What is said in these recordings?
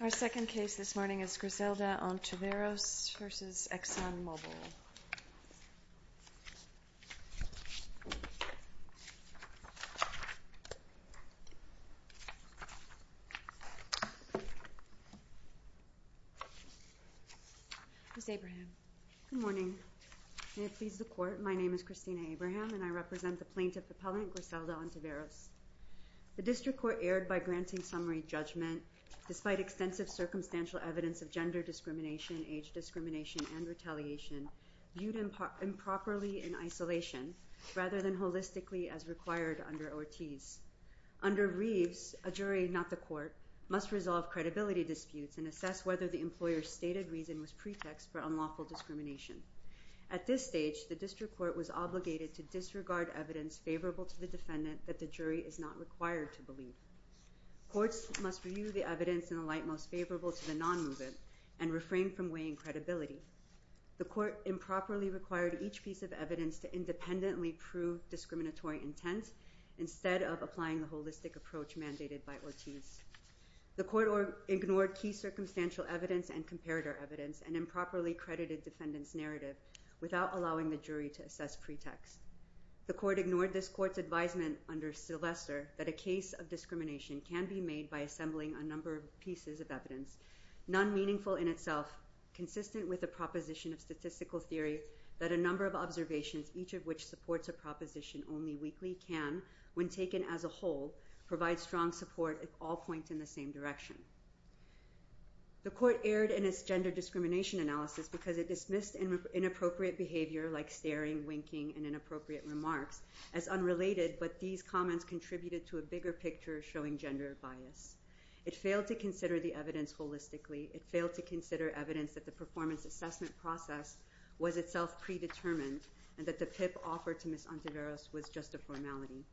Our second case this morning is Griselda Ontiveros v. Exxon Mobil. Ms. Abraham. Good morning. May it please the Court, my name is Christina Abraham and I represent the plaintiff appellant Griselda Ontiveros. The district court erred by granting summary judgment despite extensive circumstantial evidence of gender discrimination, age discrimination and retaliation viewed improperly in isolation rather than holistically as required under Ortiz. Under Reeves, a jury, not the court, must resolve credibility disputes and assess whether the employer's stated reason was pretext for unlawful discrimination. At this stage, the district court was obligated to disregard evidence favorable to the defendant that the jury is not required to believe. Courts must review the evidence in the light most favorable to the non-movement and refrain from weighing credibility. The court improperly required each piece of evidence to independently prove discriminatory intent instead of applying the holistic approach mandated by Ortiz. The court ignored key circumstantial evidence and comparator evidence and improperly credited defendant's narrative without allowing the jury to assess pretext. The court ignored this court's advisement under Sylvester that a case of discrimination can be made by assembling a number of pieces of evidence, none meaningful in itself, consistent with a proposition of statistical theory that a number of observations, each of which supports a proposition only weakly can, when taken as a whole, provide strong support if all point in the same direction. The court erred in its gender discrimination analysis because it dismissed inappropriate behavior like staring, winking and inappropriate remarks as unrelated but these comments contributed to a bigger picture showing gender bias. It failed to consider the evidence holistically. It failed to consider evidence that the performance assessment process was itself predetermined and that the PIP offered to Ms. Ontiveros was just a formality.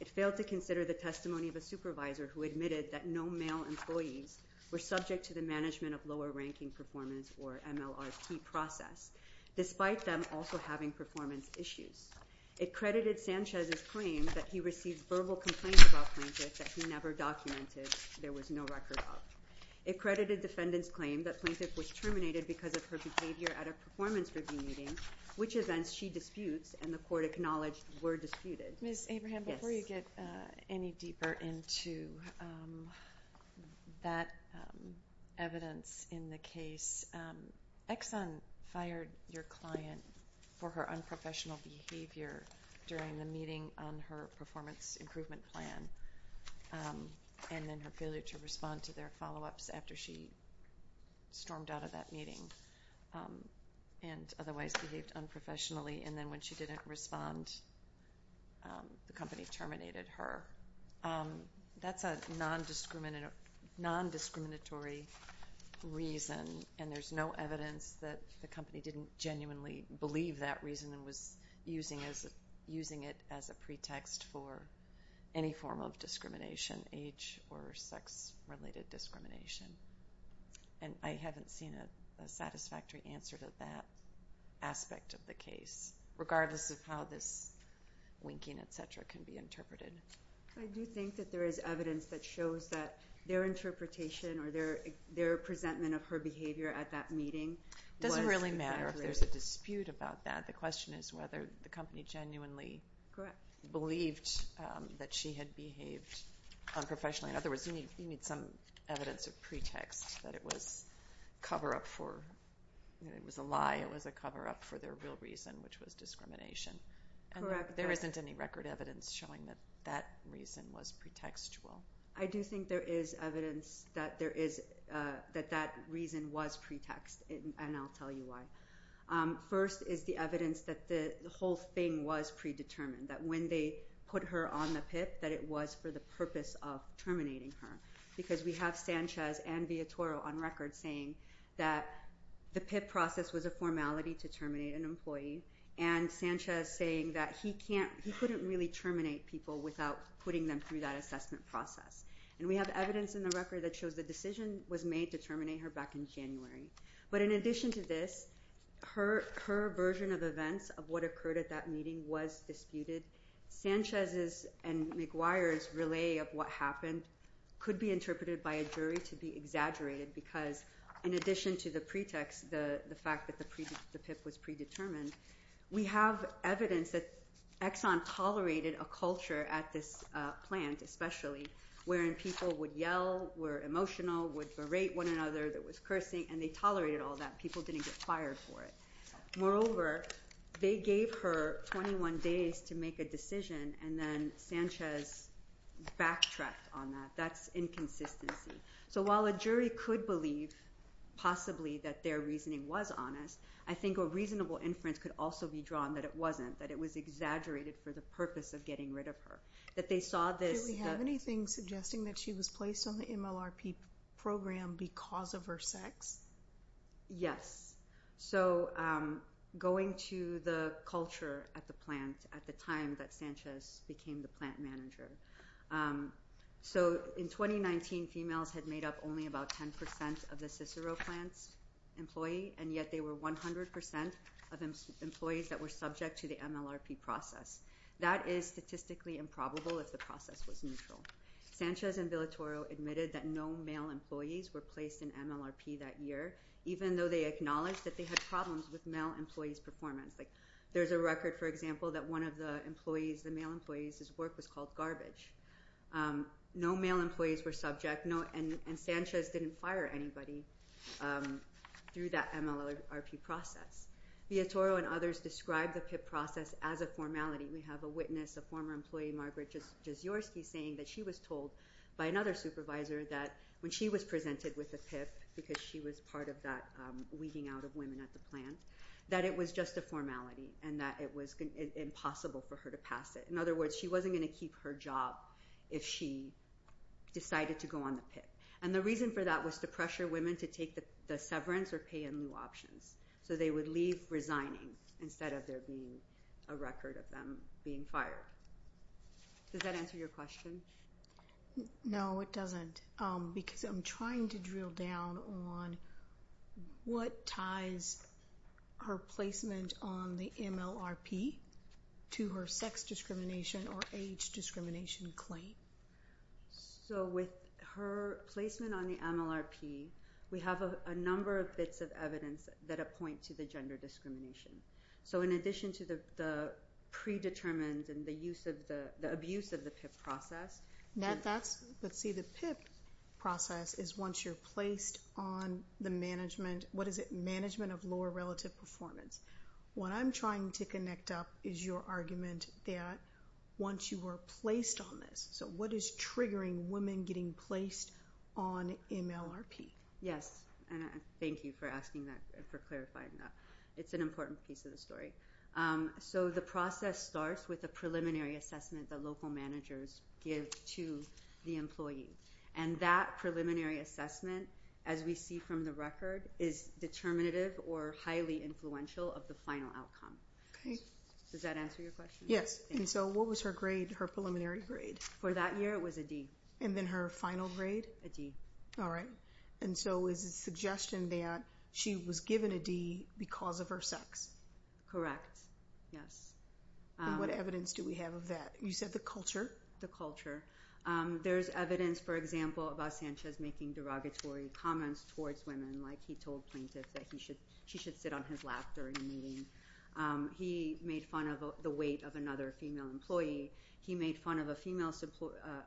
It failed to consider the testimony of a supervisor who admitted that no male employees were subject to the management of lower ranking performance or MLRP process, despite them also having performance issues. It credited Sanchez's claim that he received verbal complaints about Plaintiff that he never documented, there was no record of. It credited defendant's claim that Plaintiff was terminated because of her behavior at a performance review meeting, which events she disputes and the court acknowledged were disputed. Ms. Abraham, before you get any deeper into that evidence in the case, Exxon fired your client for her unprofessional behavior during the meeting on her performance improvement plan and then her failure to respond to their follow-ups after she stormed out of that meeting and otherwise behaved unprofessionally. And then when she didn't respond, the company terminated her. That's a non-discriminatory reason and there's no evidence that the company didn't genuinely believe that reason and was using it as a pretext for any form of discrimination, age or sex-related discrimination. And I haven't seen a satisfactory answer to that aspect of the case, regardless of how this winking, et cetera, can be interpreted. I do think that there is evidence that shows that their interpretation or their presentment of her behavior at that meeting. It doesn't really matter if there's a dispute about that. The question is whether the company genuinely believed that she had behaved unprofessionally. In other words, you need some evidence of pretext that it was cover-up for – it was a lie, it was a cover-up for their real reason, which was discrimination. And there isn't any record evidence showing that that reason was pretextual. I do think there is evidence that that reason was pretext, and I'll tell you why. First is the evidence that the whole thing was predetermined, that when they put her on the PIP, that it was for the purpose of terminating her. Because we have Sanchez and Viatoro on record saying that the PIP process was a formality to terminate an employee, and Sanchez saying that he couldn't really terminate people without putting them through that assessment process. And we have evidence in the record that shows the decision was made to terminate her back in January. But in addition to this, her version of events of what occurred at that meeting was disputed. Sanchez's and Maguire's relay of what happened could be interpreted by a jury to be exaggerated, because in addition to the pretext, the fact that the PIP was predetermined, we have evidence that Exxon tolerated a culture at this plant, especially, wherein people would yell, were emotional, would berate one another, there was cursing, and they tolerated all that. People didn't get fired for it. Moreover, they gave her 21 days to make a decision, and then Sanchez backtracked on that. That's inconsistency. So while a jury could believe possibly that their reasoning was honest, I think a reasonable inference could also be drawn that it wasn't, that it was exaggerated for the purpose of getting rid of her, that they saw this- Do we have anything suggesting that she was placed on the MLRP program because of her sex? Yes. So, going to the culture at the plant at the time that Sanchez became the plant manager. So, in 2019, females had made up only about 10% of the Cicero plants employee, and yet they were 100% of employees that were subject to the MLRP process. That is statistically improbable if the process was neutral. Sanchez and Villatoro admitted that no male employees were placed in MLRP that year, even though they acknowledged that they had problems with male employees' performance. There's a record, for example, that one of the male employees' work was called garbage. No male employees were subject, and Sanchez didn't fire anybody through that MLRP process. Villatoro and others described the PIP process as a formality. We have a witness, a former employee, Margaret Jaszorski, saying that she was told by another supervisor that when she was presented with a PIP, because she was part of that weeding out of women at the plant, that it was just a formality and that it was impossible for her to pass it. In other words, she wasn't going to keep her job if she decided to go on the PIP. And the reason for that was to pressure women to take the severance or pay in lieu options. So they would leave resigning instead of there being a record of them being fired. Does that answer your question? No, it doesn't, because I'm trying to drill down on what ties her placement on the MLRP to her sex discrimination or age discrimination claim. So with her placement on the MLRP, we have a number of bits of evidence that point to the gender discrimination. So in addition to the predetermined and the abuse of the PIP process— Let's see, the PIP process is once you're placed on the management—what is it? Management of lower relative performance. What I'm trying to connect up is your argument that once you were placed on this—so what is triggering women getting placed on MLRP? Yes, and thank you for asking that and for clarifying that. It's an important piece of the story. So the process starts with a preliminary assessment that local managers give to the employee. And that preliminary assessment, as we see from the record, is determinative or highly influential of the final outcome. Does that answer your question? Yes, and so what was her grade, her preliminary grade? For that year, it was a D. And then her final grade? A D. All right, and so it's a suggestion that she was given a D because of her sex. Correct, yes. And what evidence do we have of that? You said the culture? The culture. There's evidence, for example, about Sanchez making derogatory comments towards women, like he told plaintiffs that she should sit on his lap during a meeting. He made fun of the weight of another female employee. He made fun of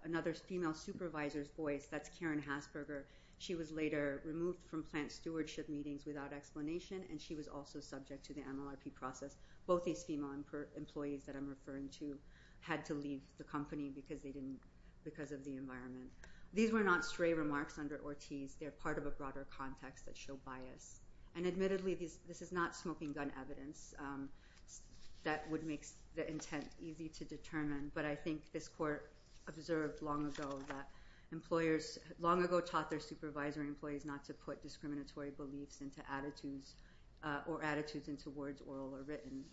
another female supervisor's voice—that's Karen Hasberger. She was later removed from plant stewardship meetings without explanation, and she was also subject to the MLRP process. Both these female employees that I'm referring to had to leave the company because of the environment. These were not stray remarks under Ortiz. They're part of a broader context that show bias. And admittedly, this is not smoking-gun evidence that would make the intent easy to determine, but I think this court observed long ago that employers long ago taught their supervisory employees not to put discriminatory beliefs or attitudes into words, oral or written.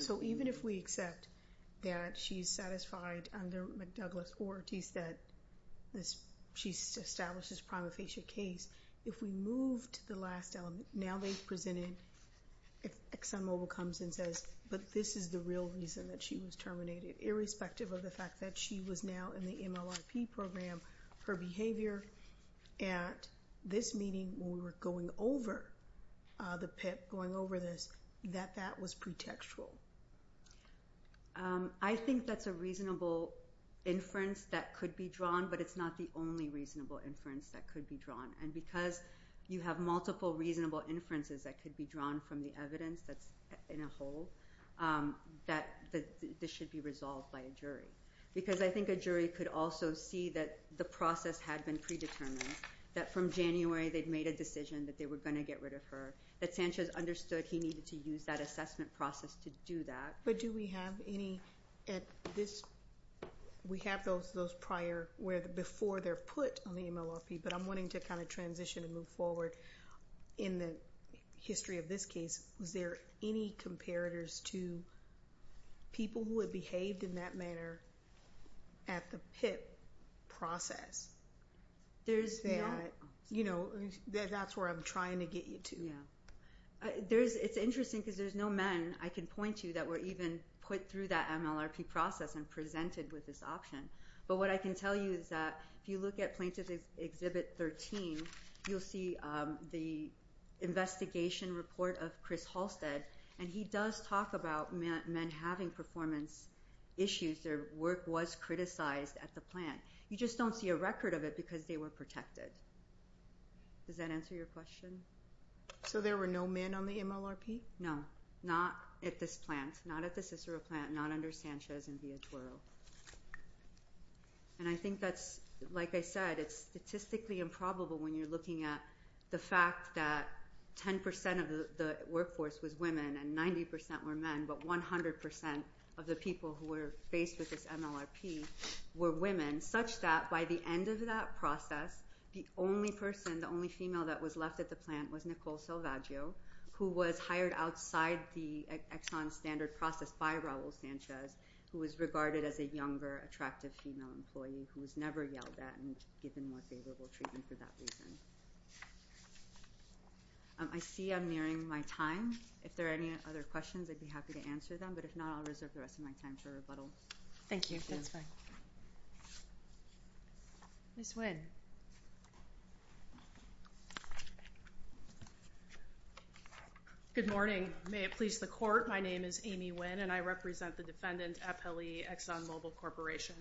So even if we accept that she's satisfied under McDouglass or Ortiz that she's established this prima facie case, if we move to the last element, now they've presented— if ExxonMobil comes and says, but this is the real reason that she was terminated, irrespective of the fact that she was now in the MLRP program, her behavior at this meeting, when we were going over the PIP, going over this, that that was pretextual. I think that's a reasonable inference that could be drawn, but it's not the only reasonable inference that could be drawn. And because you have multiple reasonable inferences that could be drawn from the evidence that's in a whole, that this should be resolved by a jury. Because I think a jury could also see that the process had been predetermined, that from January they'd made a decision that they were going to get rid of her, that Sanchez understood he needed to use that assessment process to do that. But do we have any at this—we have those prior, before they're put on the MLRP, but I'm wanting to kind of transition and move forward. In the history of this case, was there any comparators to people who had behaved in that manner at the PIP process? There's no— You know, that's where I'm trying to get you to. It's interesting because there's no men, I can point to, that were even put through that MLRP process and presented with this option. But what I can tell you is that if you look at Plaintiff Exhibit 13, you'll see the investigation report of Chris Halstead, and he does talk about men having performance issues. Their work was criticized at the plant. You just don't see a record of it because they were protected. Does that answer your question? So there were no men on the MLRP? No, not at this plant, not at the Cicero plant, not under Sanchez and Villatoro. And I think that's—like I said, it's statistically improbable when you're looking at the fact that 10% of the workforce was women and 90% were men, but 100% of the people who were faced with this MLRP were women, such that by the end of that process, the only person, the only female that was left at the plant was Nicole Salvaggio, who was hired outside the Exxon Standard process by Raul Sanchez, who was regarded as a younger, attractive female employee who was never yelled at and given more favorable treatment for that reason. I see I'm nearing my time. If there are any other questions, I'd be happy to answer them, but if not, I'll reserve the rest of my time to rebuttal. Thank you. That's fine. Ms. Wynne. Good morning. May it please the Court, my name is Amy Wynne, and I represent the defendant, Appellee ExxonMobil Corporation.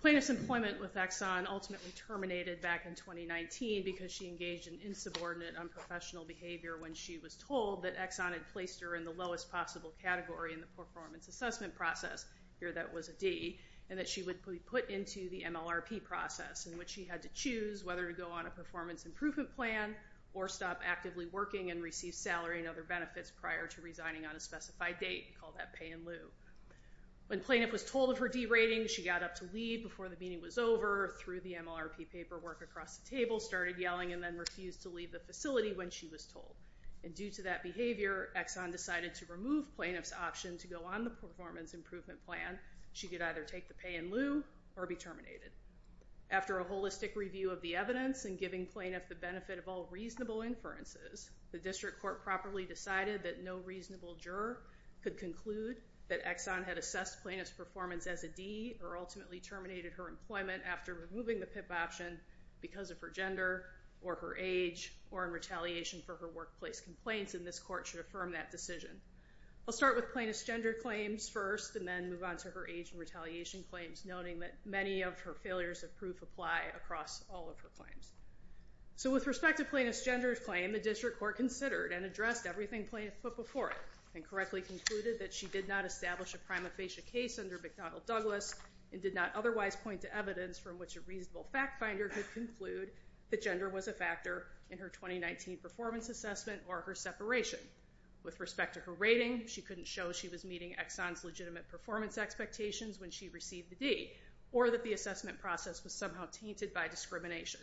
Plaintiff's employment with Exxon ultimately terminated back in 2019 because she engaged in insubordinate, unprofessional behavior when she was told that Exxon had placed her in the lowest possible category in the performance assessment process, here that was a D, and that she would be put into the MLRP process, in which she had to choose whether to go on a performance improvement plan or stop actively working and receive salary and other benefits prior to resigning on a specified date, called that pay in lieu. When plaintiff was told of her D rating, she got up to leave before the meeting was over, threw the MLRP paperwork across the table, started yelling, and then refused to leave the facility when she was told. And due to that behavior, Exxon decided to remove plaintiff's option to go on the performance improvement plan. She could either take the pay in lieu or be terminated. After a holistic review of the evidence and giving plaintiff the benefit of all reasonable inferences, the district court properly decided that no reasonable juror could conclude that Exxon had assessed plaintiff's performance as a D or ultimately terminated her employment after removing the PIP option because of her gender or her age or in retaliation for her workplace complaints, and this court should affirm that decision. I'll start with plaintiff's gender claims first and then move on to her age and retaliation claims, noting that many of her failures of proof apply across all of her claims. So with respect to plaintiff's gender claim, the district court considered and addressed everything plaintiff put before it and correctly concluded that she did not establish a prima facie case under McDonnell Douglas and did not otherwise point to evidence from which a reasonable fact finder could conclude that gender was a factor in her 2019 performance assessment or her separation. With respect to her rating, she couldn't show she was meeting Exxon's legitimate performance expectations when she received the D or that the assessment process was somehow tainted by discrimination.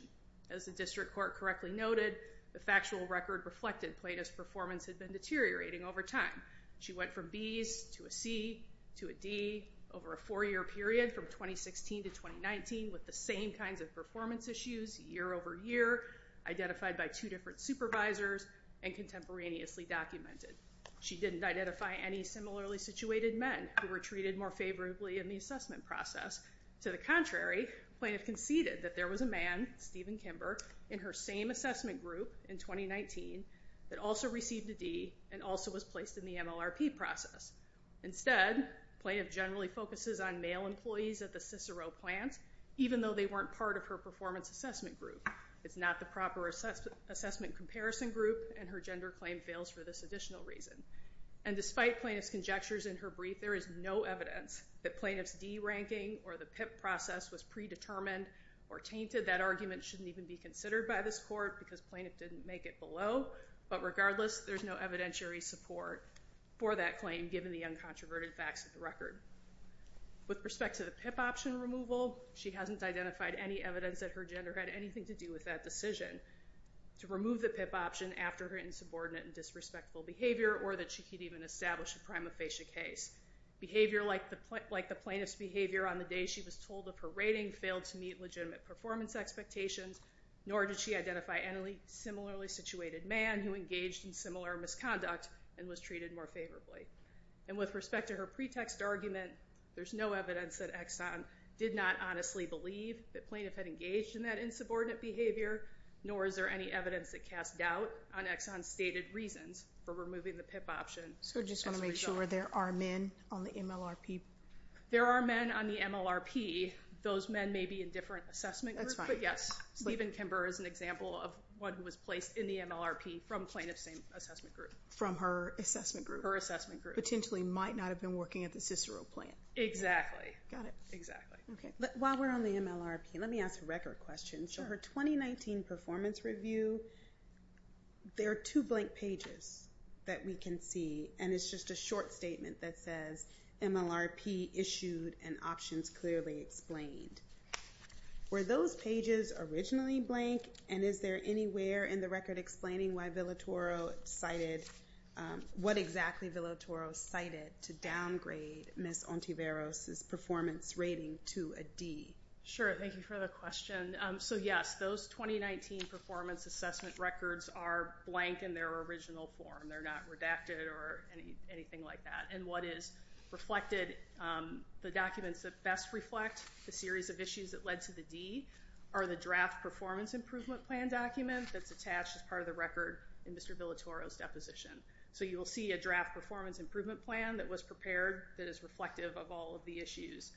As the district court correctly noted, the factual record reflected plaintiff's performance had been deteriorating over time. She went from Bs to a C to a D over a four-year period from 2016 to 2019, with the same kinds of performance issues year over year identified by two different supervisors and contemporaneously documented. She didn't identify any similarly situated men who were treated more favorably in the assessment process. To the contrary, plaintiff conceded that there was a man, Stephen Kimber, in her same assessment group in 2019 that also received a D and also was placed in the MLRP process. Instead, plaintiff generally focuses on male employees at the Cicero plant, even though they weren't part of her performance assessment group. It's not the proper assessment comparison group, and her gender claim fails for this additional reason. And despite plaintiff's conjectures in her brief, there is no evidence that plaintiff's D ranking or the PIP process was predetermined or tainted. That argument shouldn't even be considered by this court because plaintiff didn't make it below, but regardless, there's no evidentiary support for that claim given the uncontroverted facts of the record. With respect to the PIP option removal, she hasn't identified any evidence that her gender had anything to do with that decision to remove the PIP option after her insubordinate and disrespectful behavior or that she could even establish a prima facie case. Behavior like the plaintiff's behavior on the day she was told of her rating failed to meet legitimate performance expectations, nor did she identify any similarly situated man who engaged in similar misconduct and was treated more favorably. And with respect to her pretext argument, there's no evidence that Exxon did not honestly believe that plaintiff had engaged in that insubordinate behavior, nor is there any evidence that casts doubt on Exxon's stated reasons for removing the PIP option as a result. So just want to make sure there are men on the MLRP? There are men on the MLRP. Those men may be in different assessment groups, but yes, Stephen Kimber is an example of one who was placed in the MLRP from plaintiff's assessment group. From her assessment group? From her assessment group. Potentially might not have been working at the Cicero plant. Exactly. Got it. Exactly. While we're on the MLRP, let me ask a record question. Sure. So her 2019 performance review, there are two blank pages that we can see, and it's just a short statement that says MLRP issued and options clearly explained. Were those pages originally blank, and is there anywhere in the record explaining what exactly Villatoro cited to downgrade Ms. Ontiveros' performance rating to a D? Sure. Thank you for the question. So, yes, those 2019 performance assessment records are blank in their original form. They're not redacted or anything like that. And what is reflected, the documents that best reflect the series of issues that led to the D are the draft performance improvement plan document that's attached as part of the record in Mr. Villatoro's deposition. So you will see a draft performance improvement plan that was prepared that is reflective of all of the issues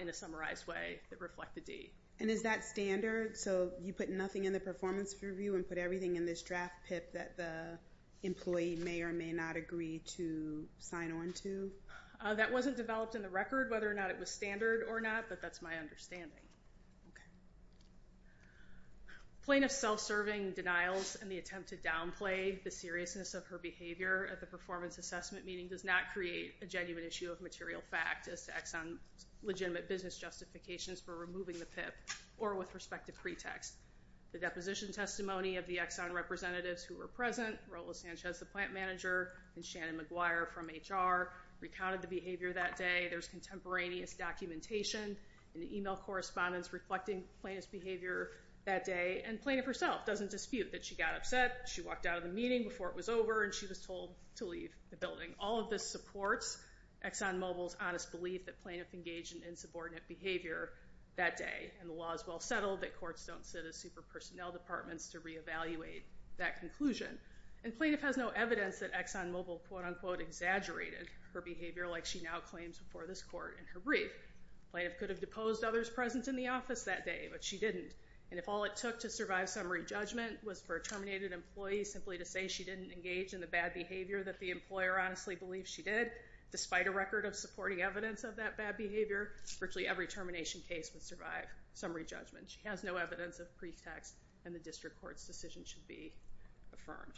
in a summarized way that reflect the D. And is that standard? So you put nothing in the performance review and put everything in this draft PIP that the employee may or may not agree to sign on to? That wasn't developed in the record, whether or not it was standard or not, but that's my understanding. Okay. Plaintiff's self-serving denials and the attempt to downplay the seriousness of her behavior at the performance assessment meeting does not create a genuine issue of material fact as to Exxon's legitimate business justifications for removing the PIP or with respect to pretext. The deposition testimony of the Exxon representatives who were present, Rola Sanchez, the plant manager, and Shannon McGuire from HR, recounted the behavior that day. There's contemporaneous documentation in the email correspondence reflecting plaintiff's behavior that day, and plaintiff herself doesn't dispute that she got upset, she walked out of the meeting before it was over, and she was told to leave the building. All of this supports ExxonMobil's honest belief that plaintiff engaged in insubordinate behavior that day, and the law is well settled that courts don't sit as super personnel departments to reevaluate that conclusion. And plaintiff has no evidence that ExxonMobil quote-unquote exaggerated her behavior like she now claims before this court in her brief. Plaintiff could have deposed others present in the office that day, but she didn't, and if all it took to survive summary judgment was for a terminated employee simply to say she didn't engage in the bad behavior that the employer honestly believes she did, despite a record of supporting evidence of that bad behavior, virtually every termination case would survive summary judgment. She has no evidence of pretext, and the district court's decision should be affirmed.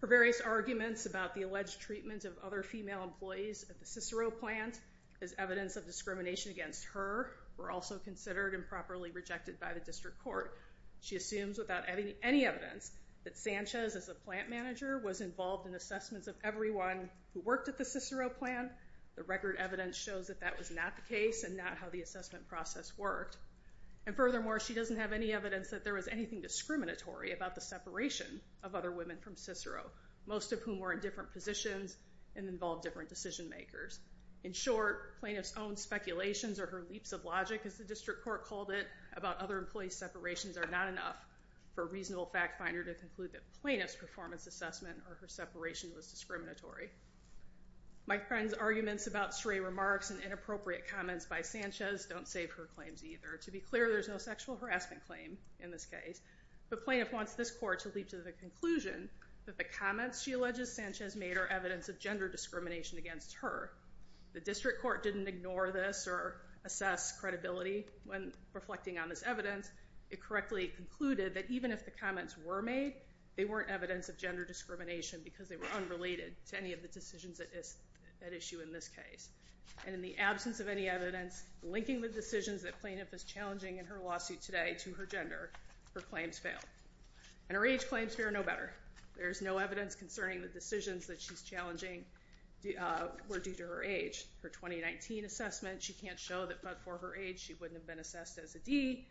Her various arguments about the alleged treatment of other female employees at the Cicero plant as evidence of discrimination against her were also considered improperly rejected by the district court. She assumes without any evidence that Sanchez, as the plant manager, was involved in assessments of everyone who worked at the Cicero plant. The record evidence shows that that was not the case and not how the assessment process worked. And furthermore, she doesn't have any evidence that there was anything discriminatory about the separation of other women from Cicero, most of whom were in different positions and involved different decision makers. In short, plaintiff's own speculations or her leaps of logic, as the district court called it, about other employees' separations are not enough for a reasonable fact finder to conclude that plaintiff's performance assessment or her separation was discriminatory. My friend's arguments about stray remarks and inappropriate comments by Sanchez don't save her claims either. To be clear, there's no sexual harassment claim in this case, but plaintiff wants this court to leap to the conclusion that the comments she alleges Sanchez made are evidence of gender discrimination against her. The district court didn't ignore this or assess credibility when reflecting on this evidence. It correctly concluded that even if the comments were made, they weren't evidence of gender discrimination because they were unrelated to any of the decisions at issue in this case. And in the absence of any evidence linking the decisions that plaintiff is challenging in her lawsuit today to her gender, her claims fail. And her age claims fare no better. There's no evidence concerning the decisions that she's challenging were due to her age. Her 2019 assessment, she can't show that, but for her age, she wouldn't have been assessed as a D.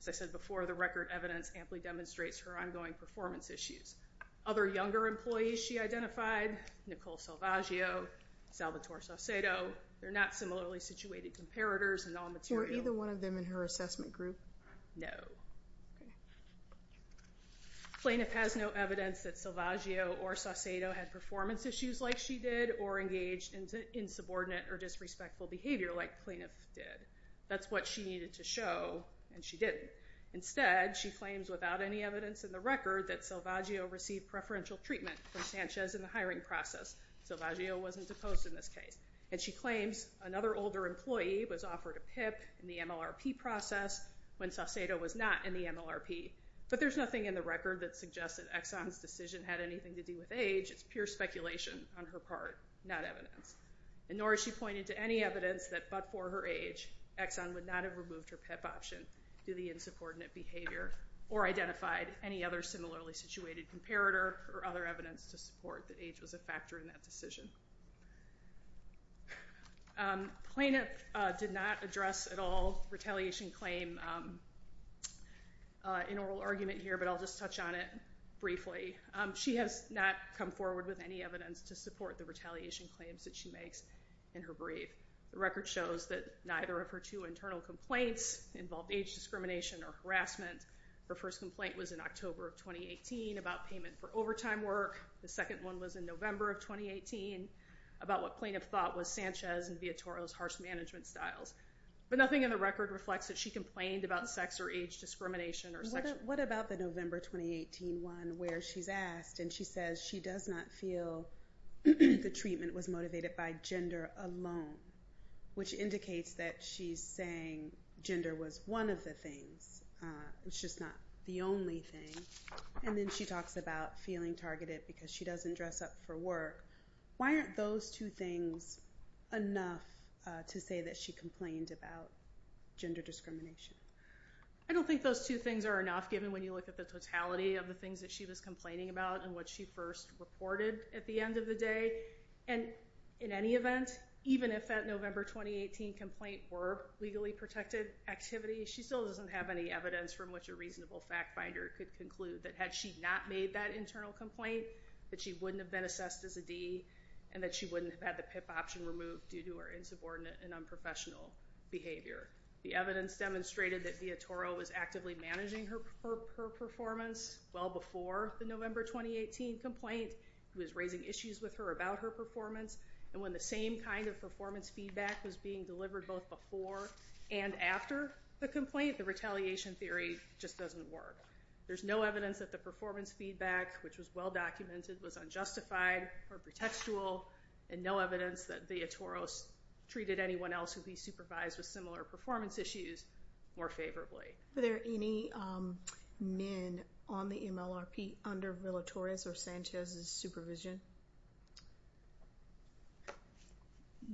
As I said before, the record evidence amply demonstrates her ongoing performance issues. Other younger employees she identified, Nicole Salvaggio, Salvatore Saucedo, they're not similarly situated comparators in all material. Was there either one of them in her assessment group? No. Plaintiff has no evidence that Salvaggio or Saucedo had performance issues like she did or engaged in subordinate or disrespectful behavior like the plaintiff did. That's what she needed to show, and she didn't. Instead, she claims without any evidence in the record that Salvaggio received preferential treatment from Sanchez in the hiring process. Salvaggio wasn't deposed in this case. And she claims another older employee was offered a PIP in the MLRP process when Saucedo was not in the MLRP. But there's nothing in the record that suggests that Exxon's decision had anything to do with age. It's pure speculation on her part, not evidence. Nor has she pointed to any evidence that but for her age, Exxon would not have removed her PIP option due to the insubordinate behavior or identified any other similarly situated comparator or other evidence to support that age was a factor in that decision. The plaintiff did not address at all retaliation claim in oral argument here, but I'll just touch on it briefly. She has not come forward with any evidence to support the retaliation claims that she makes in her brief. The record shows that neither of her two internal complaints involved age discrimination or harassment. Her first complaint was in October of 2018 about payment for overtime work. The second one was in November of 2018 about what plaintiff thought was Sanchez and Viatoro's harsh management styles. But nothing in the record reflects that she complained about sex or age discrimination or sexual... What about the November 2018 one where she's asked and she says she does not feel the treatment was motivated by gender alone, which indicates that she's saying gender was one of the things. It's just not the only thing. And then she talks about feeling targeted because she doesn't dress up for work. Why aren't those two things enough to say that she complained about gender discrimination? I don't think those two things are enough, given when you look at the totality of the things that she was complaining about and what she first reported at the end of the day. And in any event, even if that November 2018 complaint were legally protected activity, she still doesn't have any evidence from which a reasonable fact finder could conclude that had she not made that internal complaint, that she wouldn't have been assessed as a D and that she wouldn't have had the PIP option removed due to her insubordinate and unprofessional behavior. The evidence demonstrated that Viatoro was actively managing her performance well before the November 2018 complaint. He was raising issues with her about her performance. And when the same kind of performance feedback was being delivered both before and after the complaint, I think the retaliation theory just doesn't work. There's no evidence that the performance feedback, which was well-documented, was unjustified or pretextual, and no evidence that Viatoro treated anyone else who'd be supervised with similar performance issues more favorably. Were there any men on the MLRP under Villa-Torres or Sanchez's supervision?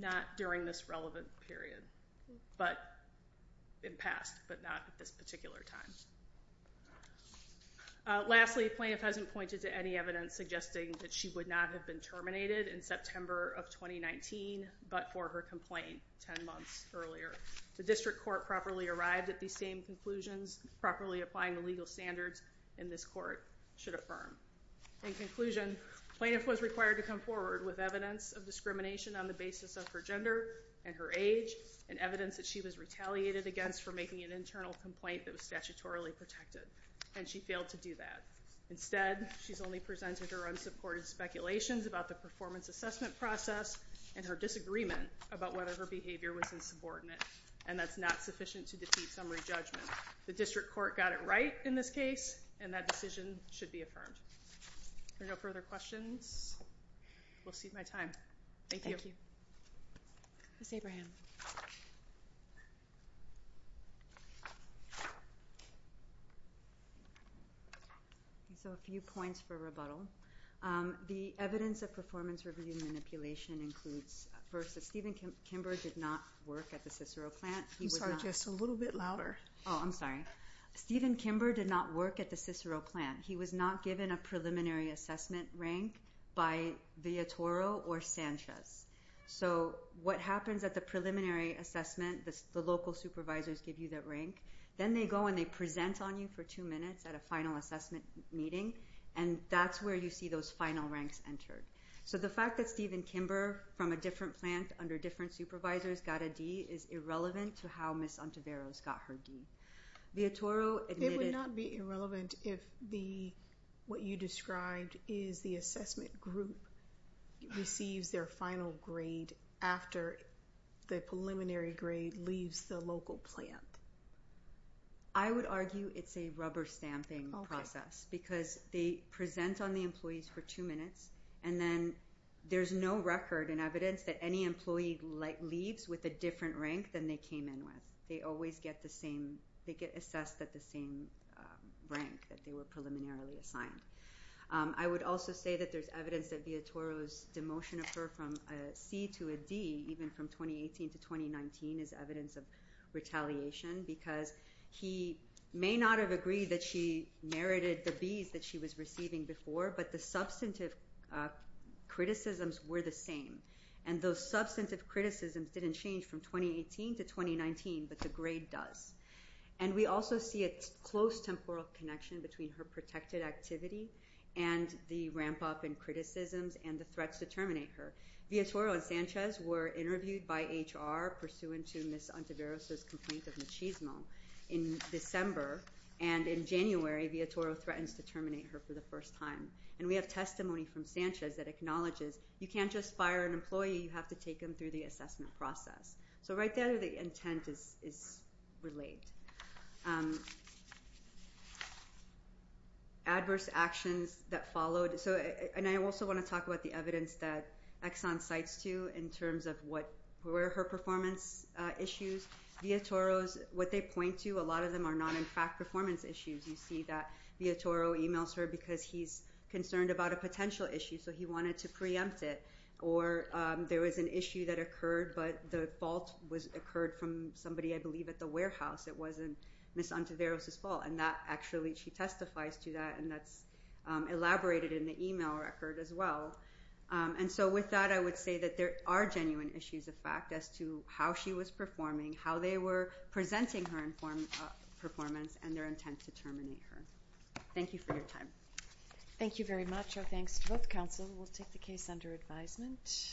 Not during this relevant period, but in past, but not at this particular time. Lastly, plaintiff hasn't pointed to any evidence suggesting that she would not have been terminated in September of 2019, but for her complaint 10 months earlier. The district court properly arrived at these same conclusions, properly applying the legal standards, and this court should affirm. In conclusion, plaintiff was required to come forward with evidence of discrimination on the basis of her gender and her age and evidence that she was retaliated against for making an internal complaint that was statutorily protected, and she failed to do that. Instead, she's only presented her unsupported speculations about the performance assessment process and her disagreement about whether her behavior was insubordinate, and that's not sufficient to defeat summary judgment. The district court got it right in this case, and that decision should be affirmed. If there are no further questions, we'll cede my time. Thank you. Thank you. Ms. Abraham. So a few points for rebuttal. The evidence of performance review manipulation includes, first, that Stephen Kimber did not work at the Cicero plant. I'm sorry, just a little bit louder. Oh, I'm sorry. Stephen Kimber did not work at the Cicero plant. He was not given a preliminary assessment rank by Villatoro or Sanchez. So what happens at the preliminary assessment, the local supervisors give you that rank. Then they go and they present on you for two minutes at a final assessment meeting, and that's where you see those final ranks entered. So the fact that Stephen Kimber from a different plant under different supervisors got a D is irrelevant to how Ms. Ontiveros got her D. It would not be irrelevant if what you described is the assessment group receives their final grade after the preliminary grade leaves the local plant. I would argue it's a rubber stamping process because they present on the employees for two minutes, and then there's no record and evidence that any employee leaves with a different rank than they came in with. They always get assessed at the same rank that they were preliminarily assigned. I would also say that there's evidence that Villatoro's demotion of her from a C to a D, even from 2018 to 2019, is evidence of retaliation because he may not have agreed that she merited the Bs that she was receiving before, but the substantive criticisms were the same. And those substantive criticisms didn't change from 2018 to 2019, but the grade does. And we also see a close temporal connection between her protected activity and the ramp-up in criticisms and the threats to terminate her. Villatoro and Sanchez were interviewed by HR pursuant to Ms. Ontiveros' complaint of machismo in December, and in January Villatoro threatens to terminate her for the first time. And we have testimony from Sanchez that acknowledges you can't just fire an employee, you have to take them through the assessment process. So right there the intent is related. Adverse actions that followed. And I also want to talk about the evidence that Exxon cites too in terms of what were her performance issues. Villatoro's, what they point to, a lot of them are not in fact performance issues. You see that Villatoro emails her because he's concerned about a potential issue, so he wanted to preempt it. Or there was an issue that occurred, but the fault occurred from somebody, I believe, at the warehouse. It wasn't Ms. Ontiveros' fault. And that actually, she testifies to that, and that's elaborated in the email record as well. And so with that I would say that there are genuine issues of fact as to how she was performing, how they were presenting her performance, and their intent to terminate her. Thank you for your time. Thank you very much. Our thanks to both counsel. We'll take the case under advisement.